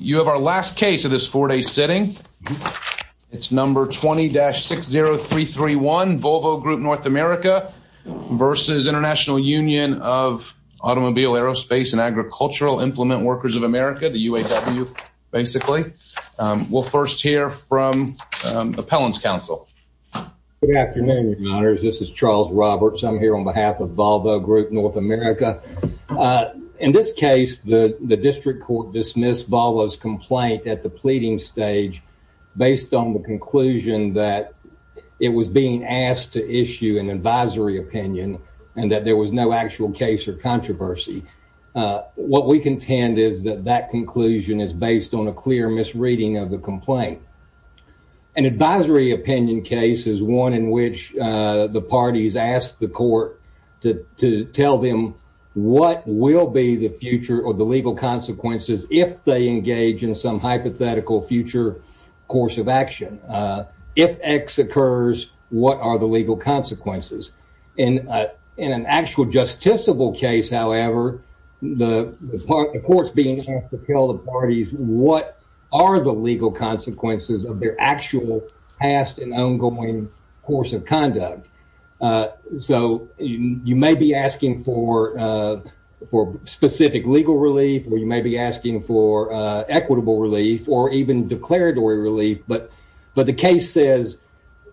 You have our last case of this four day sitting. It's number 20-60331 Volvo Group North America versus International Union of Automobile Aerospace and Agricultural Implement Workers of America, the UAW, basically. We'll first hear from Appellants Council. Good afternoon, your honors. This is Charles Roberts. I'm here on behalf of Volvo Group North America. In this case, the complaint at the pleading stage based on the conclusion that it was being asked to issue an advisory opinion and that there was no actual case or controversy. What we contend is that that conclusion is based on a clear misreading of the complaint. An advisory opinion case is one in which the parties asked the court to tell them what will be the future or the hypothetical future course of action. If X occurs, what are the legal consequences? And in an actual justiciable case, however, the court's being asked to tell the parties what are the legal consequences of their actual past and ongoing course of conduct. So you may be asking for specific legal relief, or you may be asking for equitable relief, or even declaratory relief. But the case says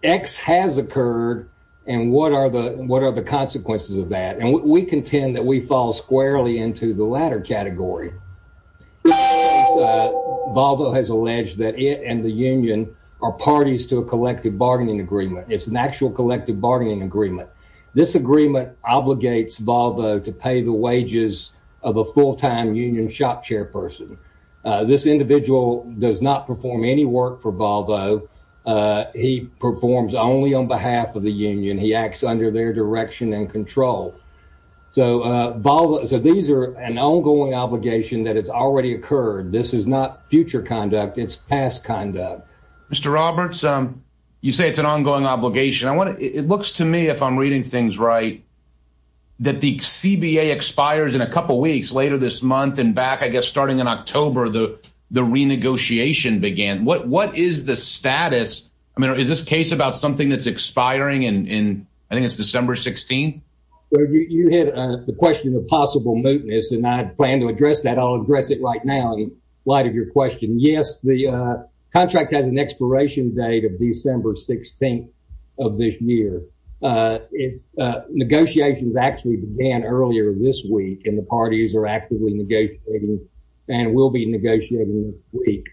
X has occurred, and what are the consequences of that? And we contend that we fall squarely into the latter category. Volvo has alleged that it and the union are parties to a collective bargaining agreement. It's an actual collective bargaining agreement. This agreement obligates Volvo to pay the wages of a full-time union shop chairperson. This individual does not perform any work for Volvo. He performs only on behalf of the union. He acts under their direction and control. So these are an ongoing obligation that has already occurred. This is not future conduct. It's past conduct. Mr. Roberts, you say it's an ongoing obligation. It looks to me, if I'm reading things right, that the CBA expires in a couple of weeks. And then back, I guess, starting in October, the renegotiation began. What is the status? I mean, is this case about something that's expiring in, I think it's December 16? You had the question of possible mootness, and I plan to address that. I'll address it right now in light of your question. Yes, the contract has an expiration date of December 16 of this year. Negotiations actually began earlier this week, and the CBA is negotiating, and will be negotiating next week.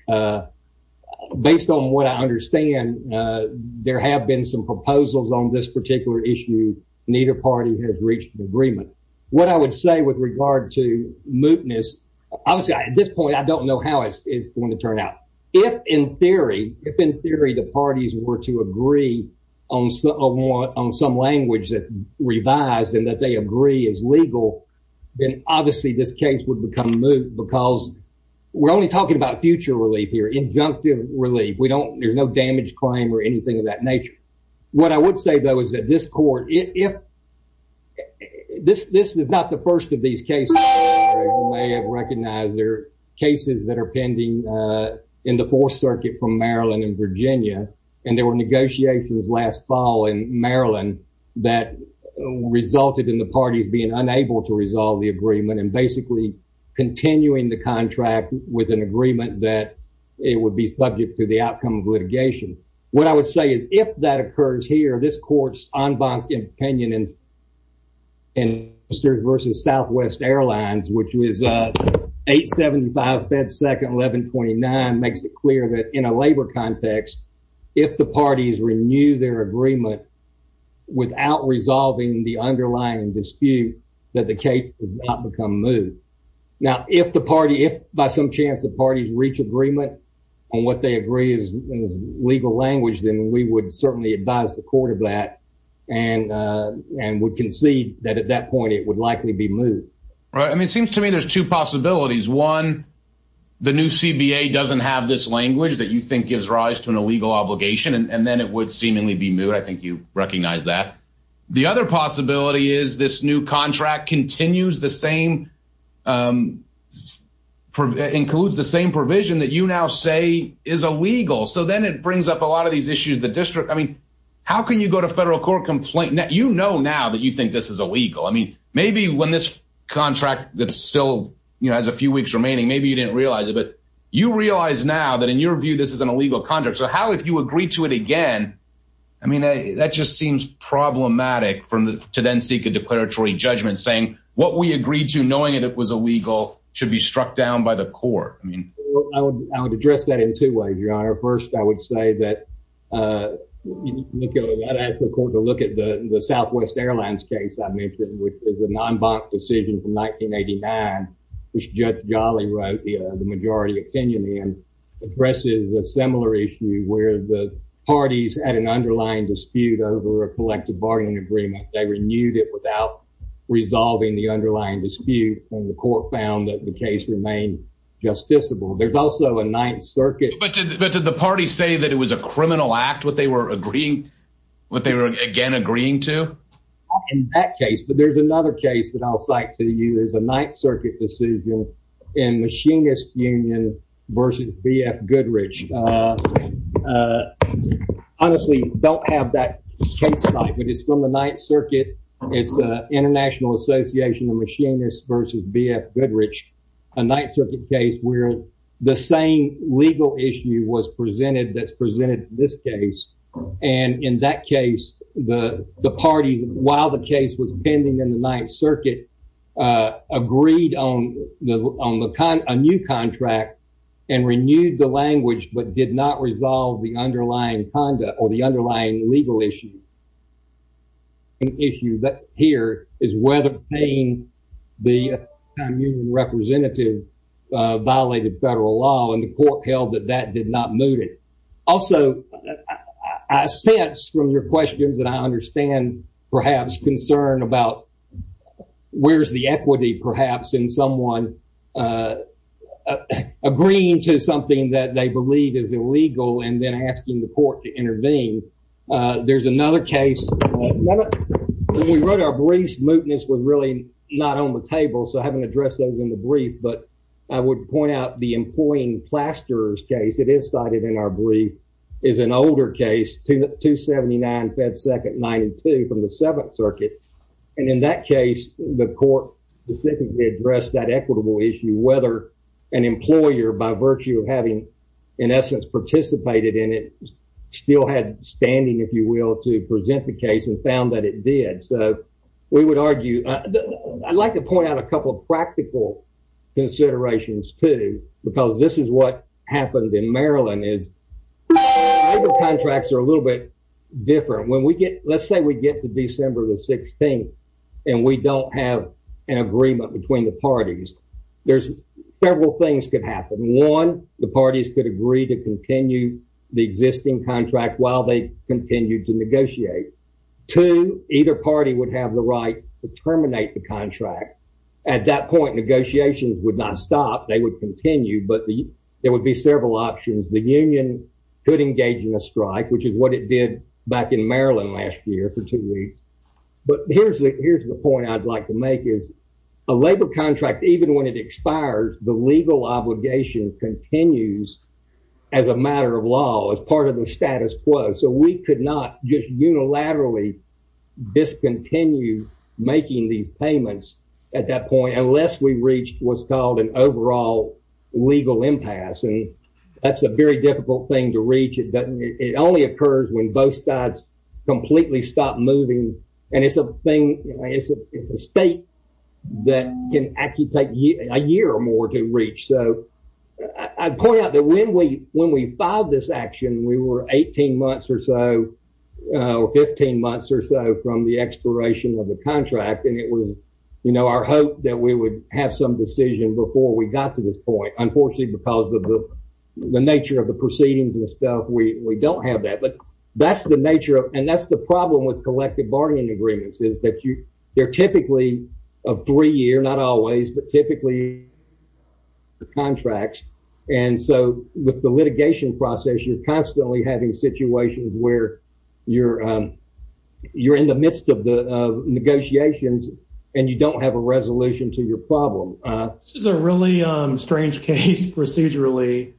Based on what I understand, there have been some proposals on this particular issue. Neither party has reached an agreement. What I would say with regard to mootness, obviously, at this point, I don't know how it's going to turn out. If, in theory, if in theory, the parties were to agree on some language that's revised and that they agree is legal, then obviously, this case would become moot because we're only talking about future relief here, injunctive relief. We don't, there's no damage claim or anything of that nature. What I would say, though, is that this court, if this is not the first of these cases, you may have recognized there are cases that are pending in the Fourth Circuit from Maryland and Virginia. And there were negotiations last fall in Maryland that resulted in the parties being unable to resolve the agreement and basically continuing the contract with an agreement that it would be subject to the outcome of litigation. What I would say is, if that occurs here, this court's en banc opinion in Mr. versus Southwest Airlines, which was 875 Fed Second 1129, makes it clear that in a labor context, if the parties renew their agreement, without resolving the underlying dispute, that the case become moot. Now, if the party if by some chance the parties reach agreement on what they agree is legal language, then we would certainly advise the court of that. And, and we can see that at that point, it would likely be moot. Right? I mean, it seems to me there's two possibilities. One, the new CBA doesn't have this language that you think gives rise to an illegal obligation, and then it would seemingly be moot. I think you recognize that. The other possibility is this new contract continues the same, includes the same provision that you now say is illegal. So then it brings up a lot of these issues the district I mean, how can you go to federal court complaint that you know now that you think this is illegal? I mean, maybe when this contract that's still, you know, has a few weeks remaining, maybe you didn't realize it. But you realize now that in your view, this is an illegal contract. So how if you agree to it again, I mean, that just seems problematic from the to then seek a declaratory judgment saying what we agreed to knowing that it was illegal should be struck down by the court. I mean, I would address that in two ways, your honor. First, I would say that look, I'd ask the court to look at the Southwest Airlines case I mentioned, which is a non bonk decision from 1989, which Judge Jolly wrote the majority opinion and addresses a similar issue where the parties had an underlying dispute over a collective bargaining agreement, they renewed it without resolving the underlying dispute, and the court found that the case remained justiciable. There's also a Ninth Circuit, but did the party say that it was a criminal act what they were agreeing? What they were again agreeing to? In that case, but there's another case that I'll cite to you is a Ninth Circuit decision in machinist union versus BF Goodrich. Honestly, don't have that case site, but it's from the Ninth Circuit. It's the International Association of machinists versus BF Goodrich, a Ninth Circuit case where the same legal issue was presented that's presented this case. And in that case, the party while the case was pending in the Ninth Circuit, agreed on the on the kind of a new contract, and renewed the language but did not resolve the underlying conduct or the underlying legal issue. Issue that here is whether paying the representative violated federal law and the court held that that did not move it. Also, I sense from your questions that I understand, perhaps concern about where's the equity perhaps in someone agreeing to something that they believe is illegal and then asking the court to intervene. There's another case. We wrote our briefs mootness was really not on the table. So having addressed those in the brief, but I would point out the employing plasterers case it is cited in our brief is an older case to 279 Fed Second 92 from the Seventh Circuit. And in that case, the court specifically addressed that equitable issue whether an employer by virtue of having, in essence participated in it, still had standing, if you will, to present the case and found that it did. So we would argue, I'd like to point out a couple of practical considerations, too, because this is what happened in Maryland is contracts are a little bit different when we get, let's say we get to December the 16th. And we don't have an agreement between the parties. There's several things could happen. One, the parties could agree to continue the existing contract while they continue to negotiate to either party would have the right to terminate the contract. At that point, negotiations would not stop, they would continue, but the there would be several options, the union could engage in a strike, which is what it did back in Maryland last year for two weeks. But here's the here's the point I'd like to make is a labor contract, even when it expires, the legal obligation continues as a matter of law as part of the status quo. So we could not just unilaterally discontinue making these payments. At that point, unless we reached what's called an overall legal impasse. And that's a very difficult thing to reach it doesn't it only occurs when both sides completely stop moving. And it's a thing. It's a state that can actually take a year or more to reach. So I point out that when we when we filed this action, we were 18 months or so 15 months or so from the expiration of the contract. And it was, you know, our hope that we would have some decision before we got to this point, unfortunately, because of the nature of the proceedings and stuff, we don't have that. But that's the nature of and that's the problem with collective bargaining agreements is that you they're typically a three year, not always, but typically, the contracts. And so with the litigation process, you're constantly having situations where you're, you're in the midst of the negotiations, and you don't have a resolution to your problem. This is a really strange case procedurally.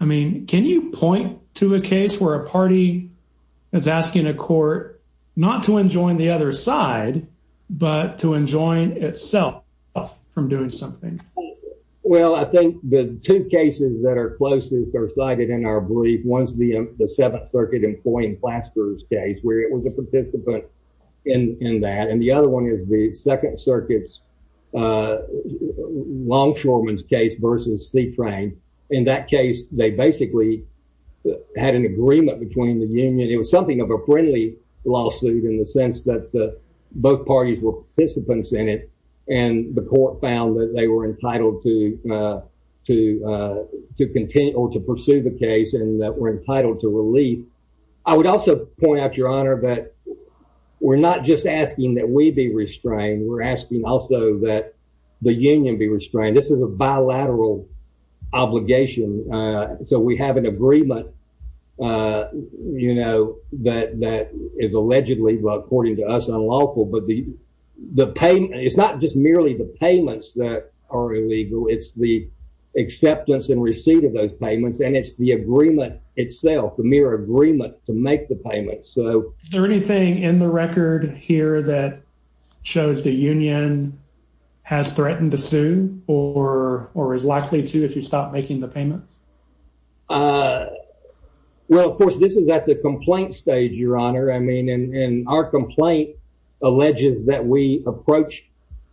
I mean, can you point to a case where a party is asking a court not to enjoin the other side, but to enjoin itself from doing something? Well, I think the two cases that are closest are cited in our brief ones, the the Seventh Circuit employing flaskers case where it was a participant in that and the other one is the Second Circuit's longshoreman's case versus sea train. In that case, they basically had an agreement between the union, it was something of a friendly lawsuit in the sense that both parties were participants in it. And the court found that they were entitled to, to continue to pursue the case and that we're point out, Your Honor, that we're not just asking that we be restrained, we're asking also that the union be restrained, this is a bilateral obligation. So we have an agreement, you know, that that is allegedly, according to us unlawful, but the, the payment, it's not just merely the payments that are illegal, it's the acceptance and receipt of those payments. And it's the agreement itself, the mere agreement to make the payment. So is there anything in the record here that shows the union has threatened to sue or, or is likely to if you stop making the payments? Well, of course, this is at the complaint stage, Your Honor, I mean, and our complaint alleges that we approach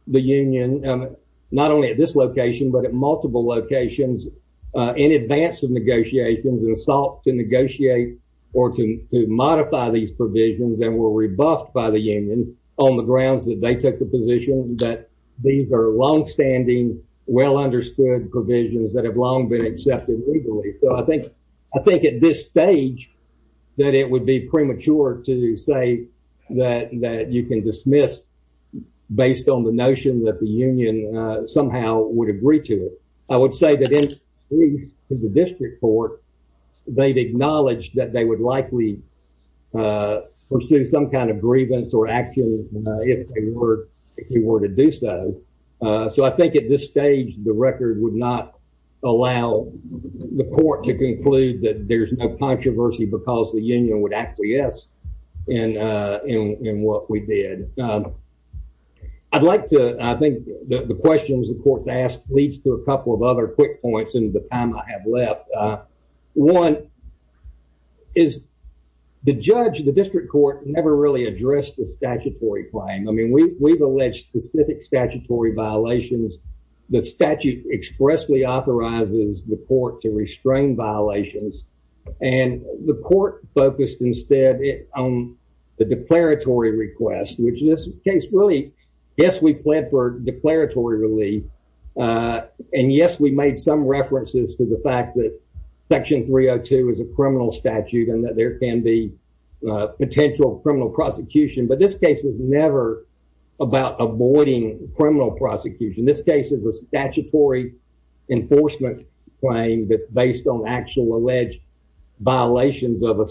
the union, not only at this location, but at multiple locations, in advance of negotiations and assault to negotiate, or to modify these provisions and were rebuffed by the union on the grounds that they took the position that these are long standing, well understood provisions that have long been accepted legally. So I think, I think at this stage, that it would be premature to say that that you can dismiss based on the notion that the union somehow would agree to it. I would say that in the district court, they've acknowledged that they would likely pursue some kind of grievance or action, if they were, if you were to do so. So I think at this stage, the record would not allow the court to conclude that there's no controversy because the union would actually yes, and in what we did. I'd like to I think the questions the court asked leads to a couple of other quick points in the time I have left. One is the judge, the district court never really addressed the statutory claim. I mean, we've alleged specific statutory violations, the statute expressly authorizes the court to restrain violations. And the court focused instead on the declaratory request, which this case really, yes, we pled for and yes, we made some references to the fact that section 302 is a criminal statute and that there can be potential criminal prosecution, but this case was never about avoiding criminal prosecution. This case is a statutory enforcement claim that's based on actual alleged violations of a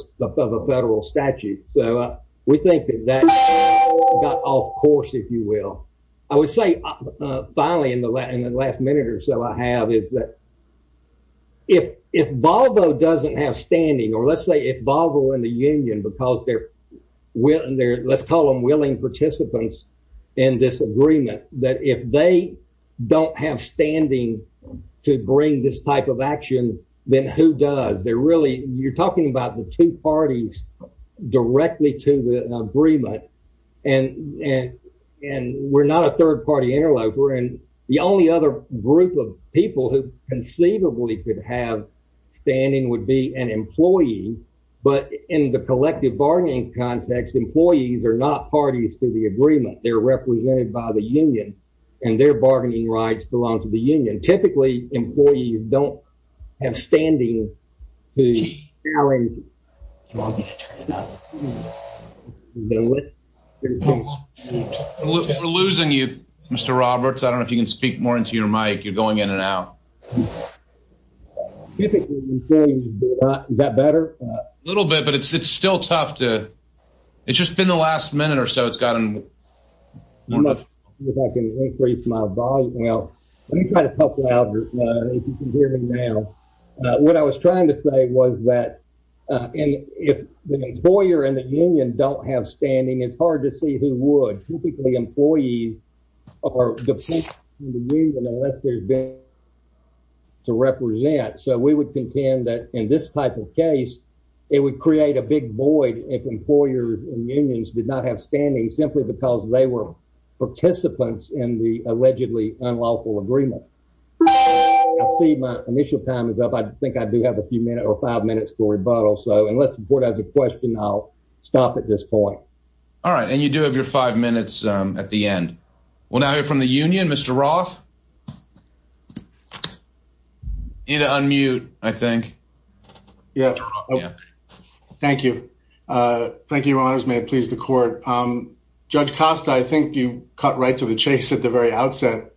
federal statute. So we think that that got off course, if you will, I would finally in the last minute or so I have is that if if Volvo doesn't have standing, or let's say if Volvo and the union because they're, let's call them willing participants in this agreement, that if they don't have standing to bring this type of action, then who does they're really you're talking about the two parties directly to the agreement. And we're not a third party interloper. And the only other group of people who conceivably could have standing would be an employee. But in the collective bargaining context, employees are not parties to the agreement, they're represented by the union, and their bargaining rights belong to the union. Typically, employees don't have standing. We're losing you, Mr. Roberts, I don't know if you can speak more into your mic, you're going in and out. Typically, is that better? A little bit, but it's it's still tough to it's just been the last minute or so it's gotten much if I can increase my volume. Now, let me try to help trying to say was that, if the employer and the union don't have standing, it's hard to see who would typically employees are, unless there's been to represent, so we would contend that in this type of case, it would create a big void if employers and unions did not have standing simply because they were participants in the allegedly unlawful agreement. I see my initial time is up. I think I do have a few minutes or five minutes for rebuttal. So unless the board has a question, I'll stop at this point. All right, and you do have your five minutes at the end. We'll now hear from the union, Mr. Roth. You need to unmute, I think. Yeah. Thank you. Thank you, Your Honors. May it please the court. Judge Costa, I think you cut right to the chase at the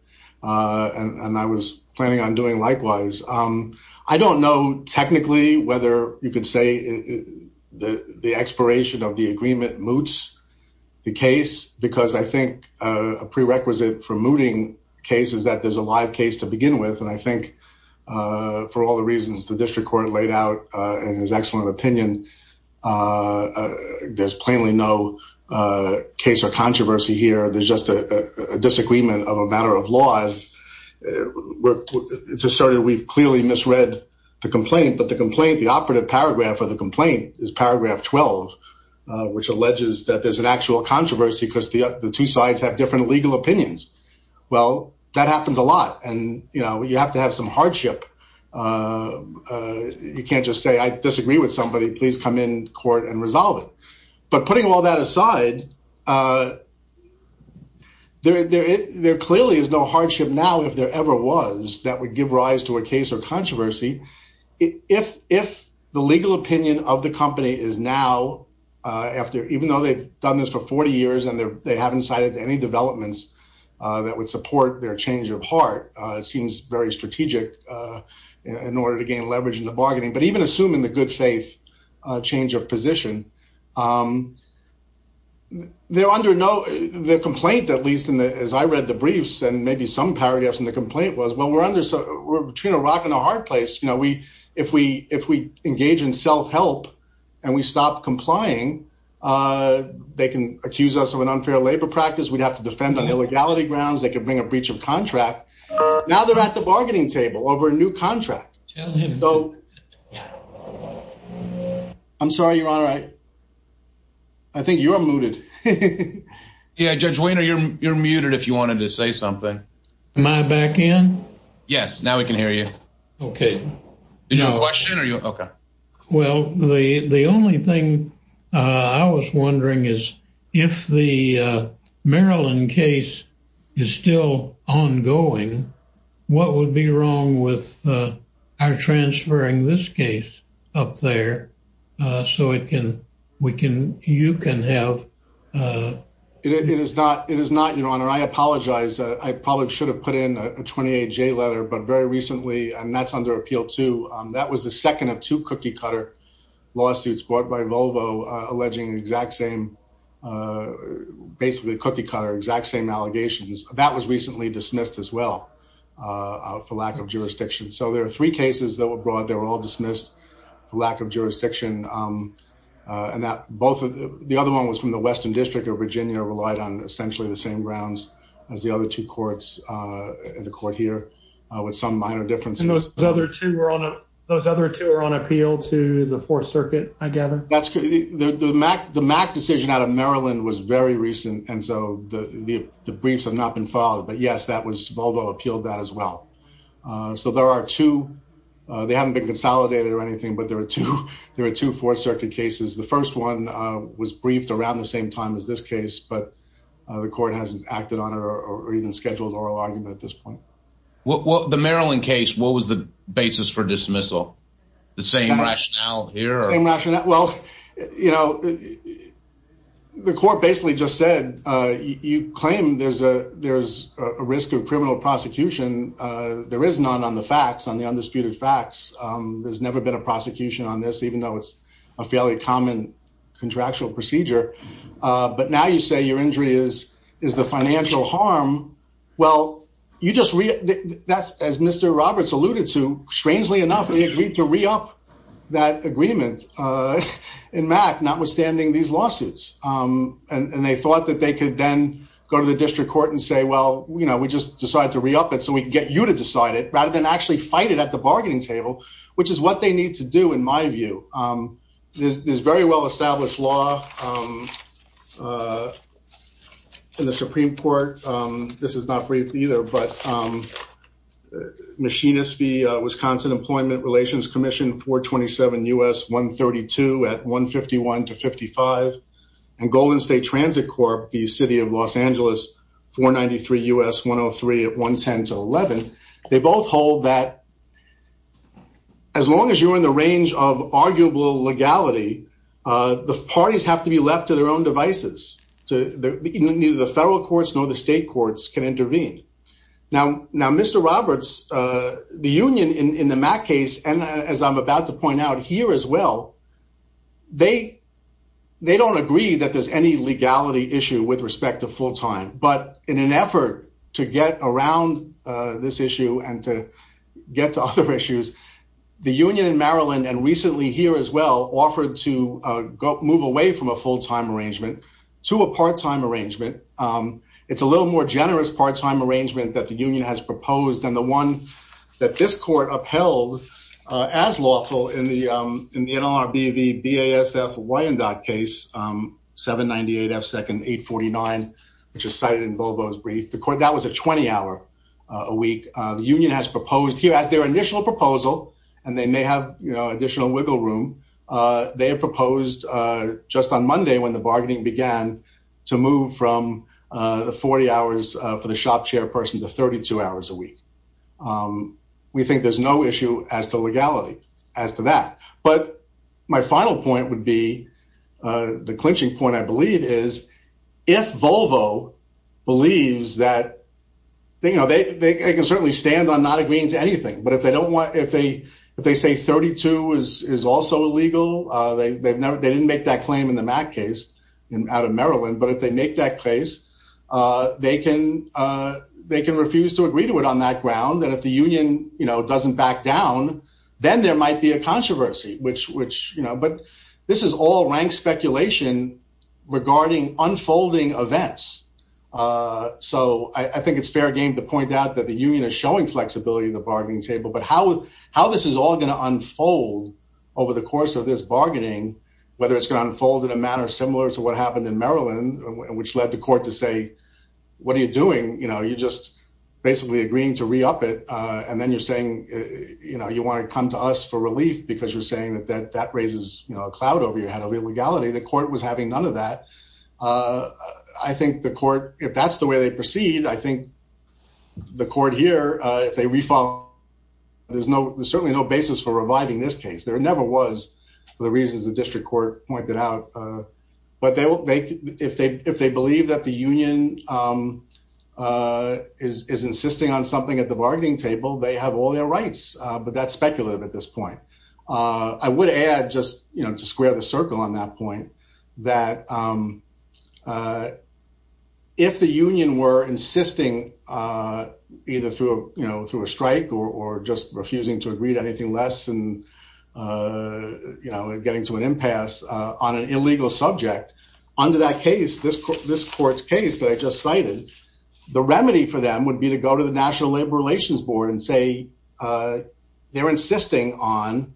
planning on doing likewise. I don't know technically whether you could say the expiration of the agreement moots the case because I think a prerequisite for mooting cases that there's a live case to begin with. And I think for all the reasons the district court laid out in his excellent opinion, there's plainly no case or controversy here. There's just a disagreement of a matter of laws. It's asserted we've clearly misread the complaint, but the complaint, the operative paragraph of the complaint is paragraph 12, which alleges that there's an actual controversy because the two sides have different legal opinions. Well, that happens a lot. And you know, you have to have some hardship. You can't just say I disagree with somebody, please come in court and resolve it. But putting all that aside, there clearly is no hardship now if there ever was that would give rise to a case or controversy. If the legal opinion of the company is now after even though they've done this for 40 years, and they haven't cited any developments that would support their change of heart, it seems very strategic in order to gain leverage in the bargaining, but even assuming the good faith change of position. They're under no complaint, at least in the as I read the briefs, and maybe some paragraphs in the complaint was well, we're under so we're between a rock and a hard place. You know, we, if we if we engage in self help, and we stop complying, they can accuse us of an unfair labor practice, we'd have to defend on illegality grounds, they could bring a breach of contract. Now they're at the bargaining table over a new contract. So I'm sorry, you're all right. I think you're muted. Yeah, Judge Weiner, you're you're muted. If you wanted to say something. Am I back in? Yes. Now we can hear you. Okay. No question. Are you? Okay. Well, the the only thing I was wondering is, if the Maryland case is still ongoing, what would be wrong with our transferring this case up there? So it can, we can you can have? It is not it is not your honor, I apologize, I probably should have put in a 28 J letter, but very recently, and that's under appeal to that was the second of two cookie cutter lawsuits brought by Volvo, alleging the exact same. Basically, the cookie cutter exact same allegations that was recently dismissed as well, for lack of jurisdiction. So there are three cases that were brought, they were all dismissed, for lack of jurisdiction. And that both of the other one was from the Western District of Virginia relied on essentially the same grounds as the other two courts in the court here, with some minor differences. Those other two were on those other two are on appeal to the that's the Mac, the Mac decision out of Maryland was very recent. And so the briefs have not been filed. But yes, that was Volvo appealed that as well. So there are two, they haven't been consolidated or anything. But there are two, there are two Fourth Circuit cases. The first one was briefed around the same time as this case, but the court hasn't acted on or even scheduled oral argument at this point. What the Maryland case, what was the basis for dismissal? The same rationale here? Well, you know, the court basically just said, you claim there's a there's a risk of criminal prosecution. There is none on the facts on the undisputed facts. There's never been a prosecution on this, even though it's a fairly common contractual procedure. But now you say your injury is, is the financial harm? Well, you just read that as Mr. Roberts alluded to. Strangely enough, he agreed to re up that agreement. In Mac notwithstanding these lawsuits, and they thought that they could then go to the district court and say, well, you know, we just decided to re up it so we can get you to decide it rather than actually fight it at the bargaining table, which is what they need to do. In my view, there's very well established law in the Supreme Court. This is not brief either. But Machinists v. Wisconsin Employment Relations Commission 427 U.S. 132 at 151 to 55. And Golden State Transit Corp, the city of Los Angeles, 493 U.S. 103 at 110 to 11. They both hold that as long as you're in the range of arguable legality, the parties have to be left to their own devices to the federal courts, nor the state courts can intervene. Now. Now, Mr. Roberts, the union in the Mac case, and as I'm about to point out here as well, they don't agree that there's any legality issue with respect to full time. But in an effort to get around this issue and to get to other issues, the union in Maryland and recently here as well offered to move away from a full time arrangement to a part time arrangement. It's a little more generous part time arrangement that the union has proposed and the one that this court upheld as lawful in the in the NLRB v. BASF Wyandotte case 798 F second 849, which is cited in Volvo's brief the court that was a 20 hour a week, the union has proposed here as their initial proposal, and they may have additional wiggle room. They have proposed just on Monday when the bargaining began to move from the 40 hours for the shop chairperson to 32 hours a week. We think there's no issue as to legality as to that. But my final point would be the clinching point, I believe is, if Volvo believes that they know they can certainly stand on not agreeing to anything, but if they don't want if they if they say 32 is also illegal, they've never they didn't make that claim in the Mac case in out of Maryland, but if they make that case, they can they can refuse to agree to it on that ground. And if the union, you know, doesn't back down, then there might be a controversy, which which, you know, but this is all rank speculation regarding unfolding events. So I think it's fair game to point out that the union is showing flexibility in the bargaining table, but how how this is all going to unfold over the course of this bargaining, whether it's going to unfold in a manner similar to what happened in Maryland, which led the court to say, What are you doing, you know, you're just basically agreeing to re up it. And then you're saying, you know, you want to come to us for relief, because you're saying that that that raises a cloud over your head of illegality, the court was having none of that. I think the court if that's the way they proceed, I think the court here, if they refile, there's no there's certainly no basis for reviving this case, there never was the reasons the district court pointed out. But they will make if they if they believe that the union is insisting on something at the bargaining table, they have all their rights. But that's speculative at this point. I would add just, you know, to square the circle on that point, that if the union were insisting, either through, you know, through a strike, or just refusing to agree to anything less than, you know, getting to an impasse on an illegal subject, under that case, this, this court's case that I just cited, the remedy for them would be to go to the National Labor Relations Board and say, they're insisting on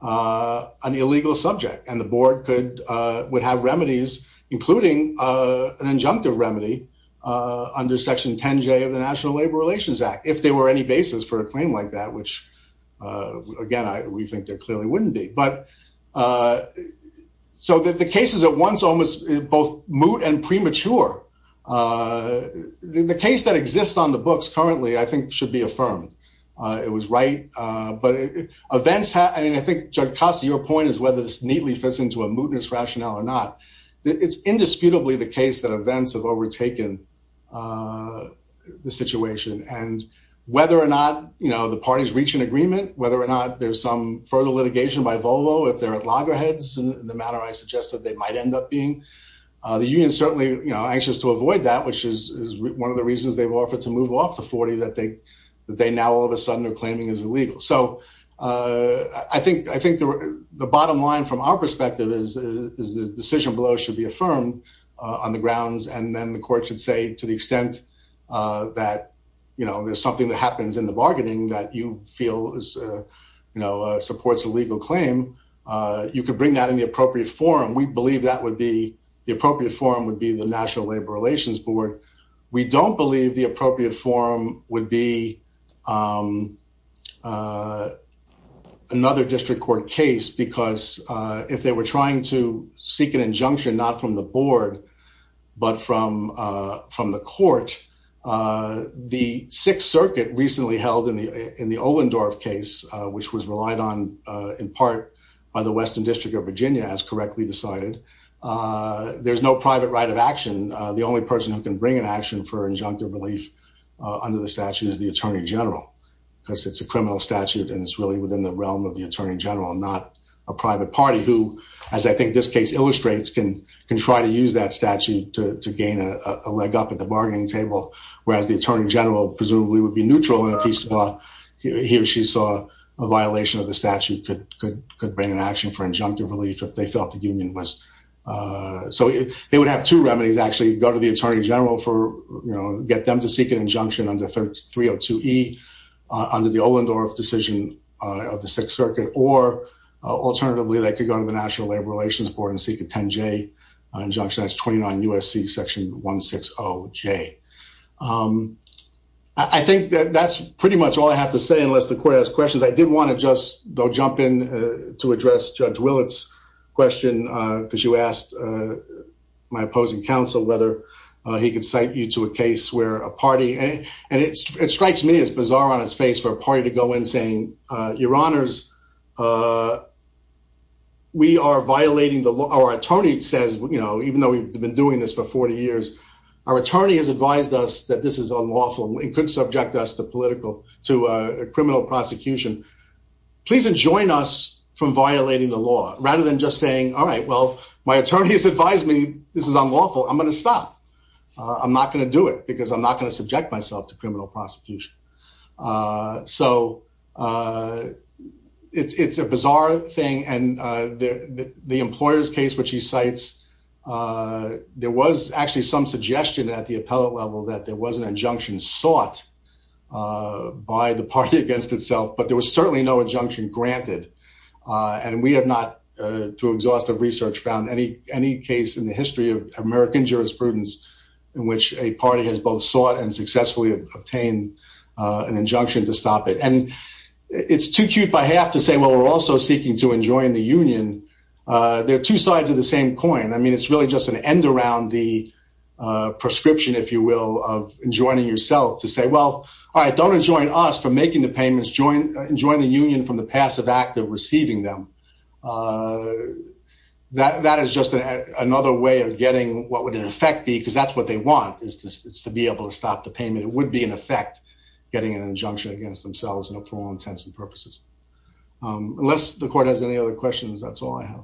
an illegal subject, and the board could would have remedies, including an injunctive remedy, under Section 10, J of the National Labor Relations Act, if there were any basis for a again, I think there clearly wouldn't be but so that the cases at once almost both moot and premature. The case that exists on the books currently, I think should be affirmed. It was right. But events have, I mean, I think, Judge Costa, your point is whether this neatly fits into a mootness rationale or not. It's indisputably the case that events have overtaken the situation. And whether or not you know, the parties reach an agreement, whether or not there's some further litigation by Volvo, if they're at loggerheads, in the manner I suggested, they might end up being the union certainly, you know, anxious to avoid that, which is one of the reasons they've offered to move off the 40 that they, that they now all of a sudden are claiming is illegal. So I think I think the bottom line from our perspective is, is the decision below should be affirmed on the grounds and then the court should say to the extent that, you know, there's something that happens in the you know, supports a legal claim, you could bring that in the appropriate forum, we believe that would be the appropriate forum would be the National Labor Relations Board. We don't believe the appropriate forum would be another district court case, because if they were trying to seek an injunction, not from the board, but from from the court, the Sixth Circuit recently held in the in the Ohlendorf case, which was relied on, in part, by the Western District of Virginia, as correctly decided, there's no private right of action, the only person who can bring an action for injunctive relief under the statute is the Attorney General, because it's a criminal statute. And it's really within the realm of the Attorney General, not a private party who, as I think this case illustrates, can can try to use that statute to gain a leg up at the bargaining table, whereas the Attorney General presumably would be neutral in a piece of law, he or she saw a violation of the statute could could could bring an action for injunctive relief if they felt the union was. So they would have two remedies actually go to the Attorney General for, you know, get them to seek an injunction under 302 E, under the Ohlendorf decision of the Sixth Circuit, or alternatively, they could go to the National Labor Relations Board and seek a 10 J injunction as 29 USC section 160 J. I think that that's pretty much all I have to say unless the court has questions. I did want to just though jump in to address Judge Willits question, because you asked my opposing counsel whether he could cite you to a case where a party and it strikes me as bizarre on his face for a party to go in saying, Your Honors, we are been doing this for 40 years, our attorney has advised us that this is unlawful, we could subject us to political to criminal prosecution, please enjoin us from violating the law rather than just saying, Alright, well, my attorney has advised me this is unlawful, I'm going to stop. I'm not going to do it because I'm not going to subject myself to criminal prosecution. So it's a bizarre thing. And the employers case, which he cites, there was actually some suggestion at the appellate level that there was an injunction sought by the party against itself, but there was certainly no injunction granted. And we have not, through exhaustive research found any any case in the history of American jurisprudence, in which a party has both sought and successfully obtained an injunction to stop it. And it's too cute by half to say, well, we're also seeking to enjoin the union. There are two sides of the same coin. I mean, it's really just an end around the prescription, if you will, of enjoining yourself to say, well, all right, don't enjoin us for making the payments join, join the union from the passive active receiving them. That is just another way of getting what would in effect because that's what they want is to be able to stop the payment, it would be an effect, getting an injunction against themselves and for all intents and purposes. Unless the court has any other questions, that's all I have.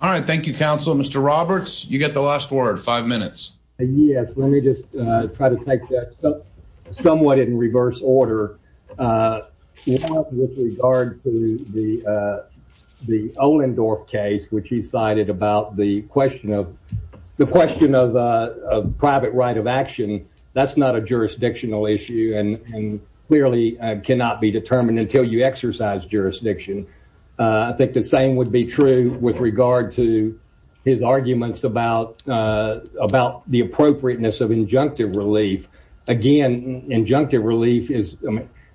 All right. Thank you, counsel. Mr. Roberts, you get the last word, five minutes. Yes, let me just try to take that somewhat in reverse order. With regard to the the Olin Dorf case, which he cited about the question of the question of private right of action, that's not a jurisdictional issue and clearly cannot be determined until you exercise jurisdiction. I think the same would be true with regard to his arguments about about the appropriateness of injunctive relief. Again, injunctive relief is,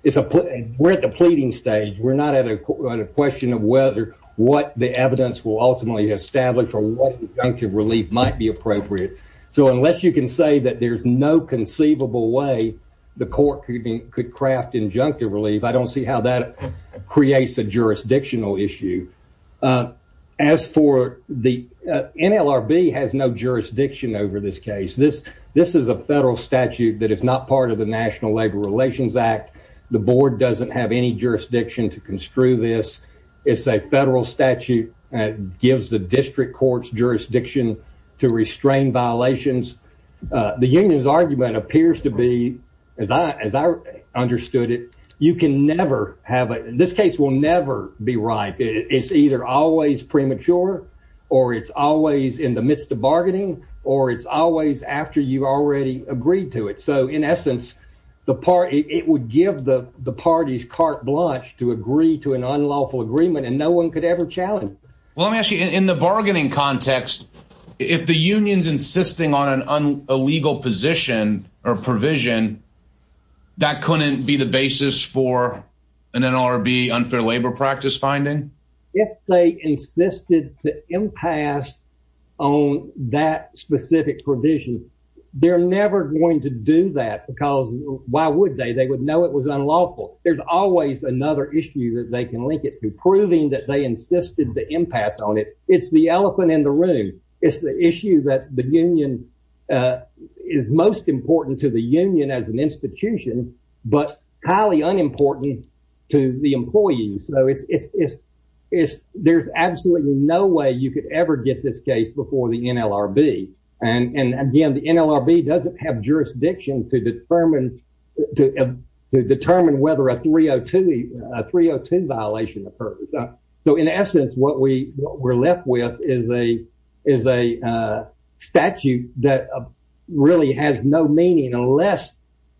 it's a we're at the pleading stage, we're not at a question of whether what the evidence will ultimately establish or what injunctive relief might be appropriate. So unless you can say that there's no conceivable way, the court could be could craft injunctive relief, I don't see how that creates a As for the NLRB has no jurisdiction over this case, this, this is a federal statute that is not part of the National Labor Relations Act. The board doesn't have any jurisdiction to construe this. It's a federal statute that gives the district courts jurisdiction to restrain violations. The union's argument appears to be, as I as I understood it, you can never have this case will never be right. It's either always premature, or it's always in the midst of bargaining, or it's always after you've already agreed to it. So in essence, the party, it would give the the parties carte blanche to agree to an unlawful agreement and no one could ever challenge. Well, actually, in the bargaining context, if the union's insisting on an illegal position or provision, that couldn't be the basis for an NLRB unfair labor practice finding if they insisted the impasse on that specific provision, they're never going to do that. Because why would they they would know it was unlawful. There's always another issue that they can link it to proving that they insisted the impasse on it. It's the elephant in the room. It's the issue that the union is most important to the union as an institution, but highly unimportant to the employees. So it's, it's, it's, there's absolutely no way you could ever get this case before the NLRB. And again, the NLRB doesn't have jurisdiction to determine to determine whether a 302, 302 violation occurs. So in essence, what we were left with is a is a statute that really has no meaning unless,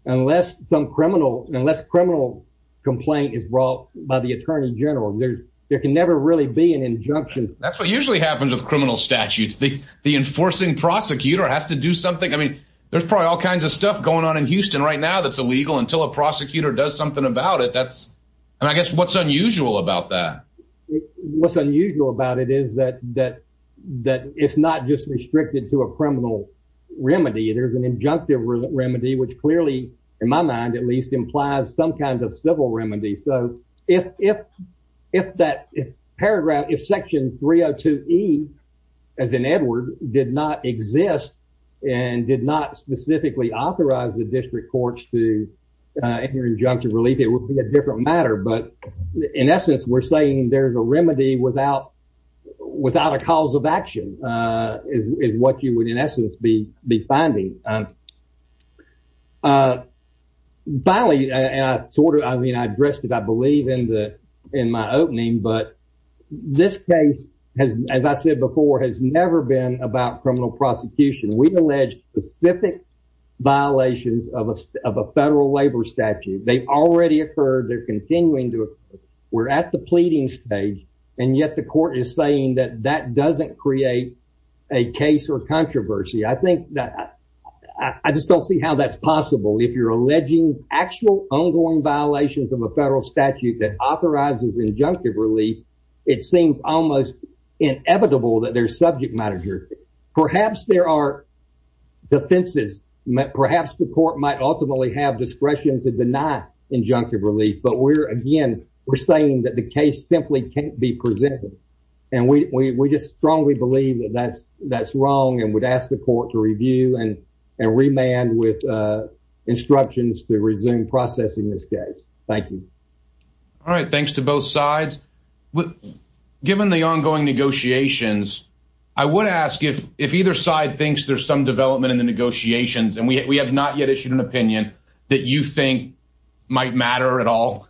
unless some criminal unless criminal complaint is brought by the Attorney General, there's, there can never really be an injunction. That's what usually happens with criminal statutes, the, the enforcing prosecutor has to do something. I mean, there's probably all kinds of stuff going on in Houston right now that's illegal until a prosecutor does something about it. That's, I guess what's unusual about that. What's unusual about it is that that that it's not just restricted to a criminal remedy. There's an injunctive remedy, which clearly, in my mind, at least implies some kind of civil remedy. So if, if, if that paragraph is section 302 E, as in Edward did not exist, and did not specifically authorize the district courts to injunction relief, it would be a different matter. But in essence, we're saying there's a remedy without, without a cause of action is what you would in essence be be finding. Finally, and I sort of I mean, I addressed it, I believe in the in my opening, but this case has, as I said before, has never been about criminal prosecution, we allege specific violations of a of a federal labor statute, they already occurred, they're continuing to, we're at the pleading stage. And yet the court is saying that that doesn't create a case or controversy. I think that I just don't see how that's possible. If you're alleging actual ongoing violations of a federal statute that authorizes injunctive relief, it seems almost inevitable that their subject matter, perhaps there are defenses, perhaps the court might ultimately have discretion to deny injunctive relief. But we're again, we're saying that the case simply can't be presented. And we just strongly believe that that's that's wrong and would ask the court to review and, and remand with instructions to resume processing this case. Thank you. All right, thanks to both sides. But given the ongoing negotiations, I would ask if if either side thinks there's some development in the negotiations, and we have not yet issued an opinion that you think might matter at all,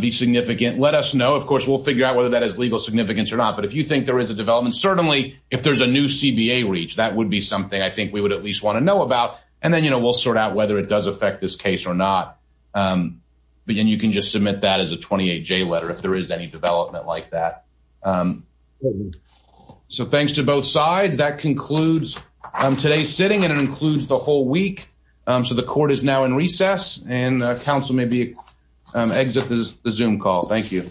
be significant, let us know. Of course, we'll figure out whether that has legal significance or not. But if you think there is a development, certainly, if there's a new CBA reach, that would be something I think we would at least want to know about. And then you know, we'll sort out whether it does affect this case or not. But then you can just submit that as a 28 J letter if there is any development like that. So thanks to both sides. That concludes today's sitting and includes the whole week. So the court is now in recess and council may be exit the zoom call. Thank you.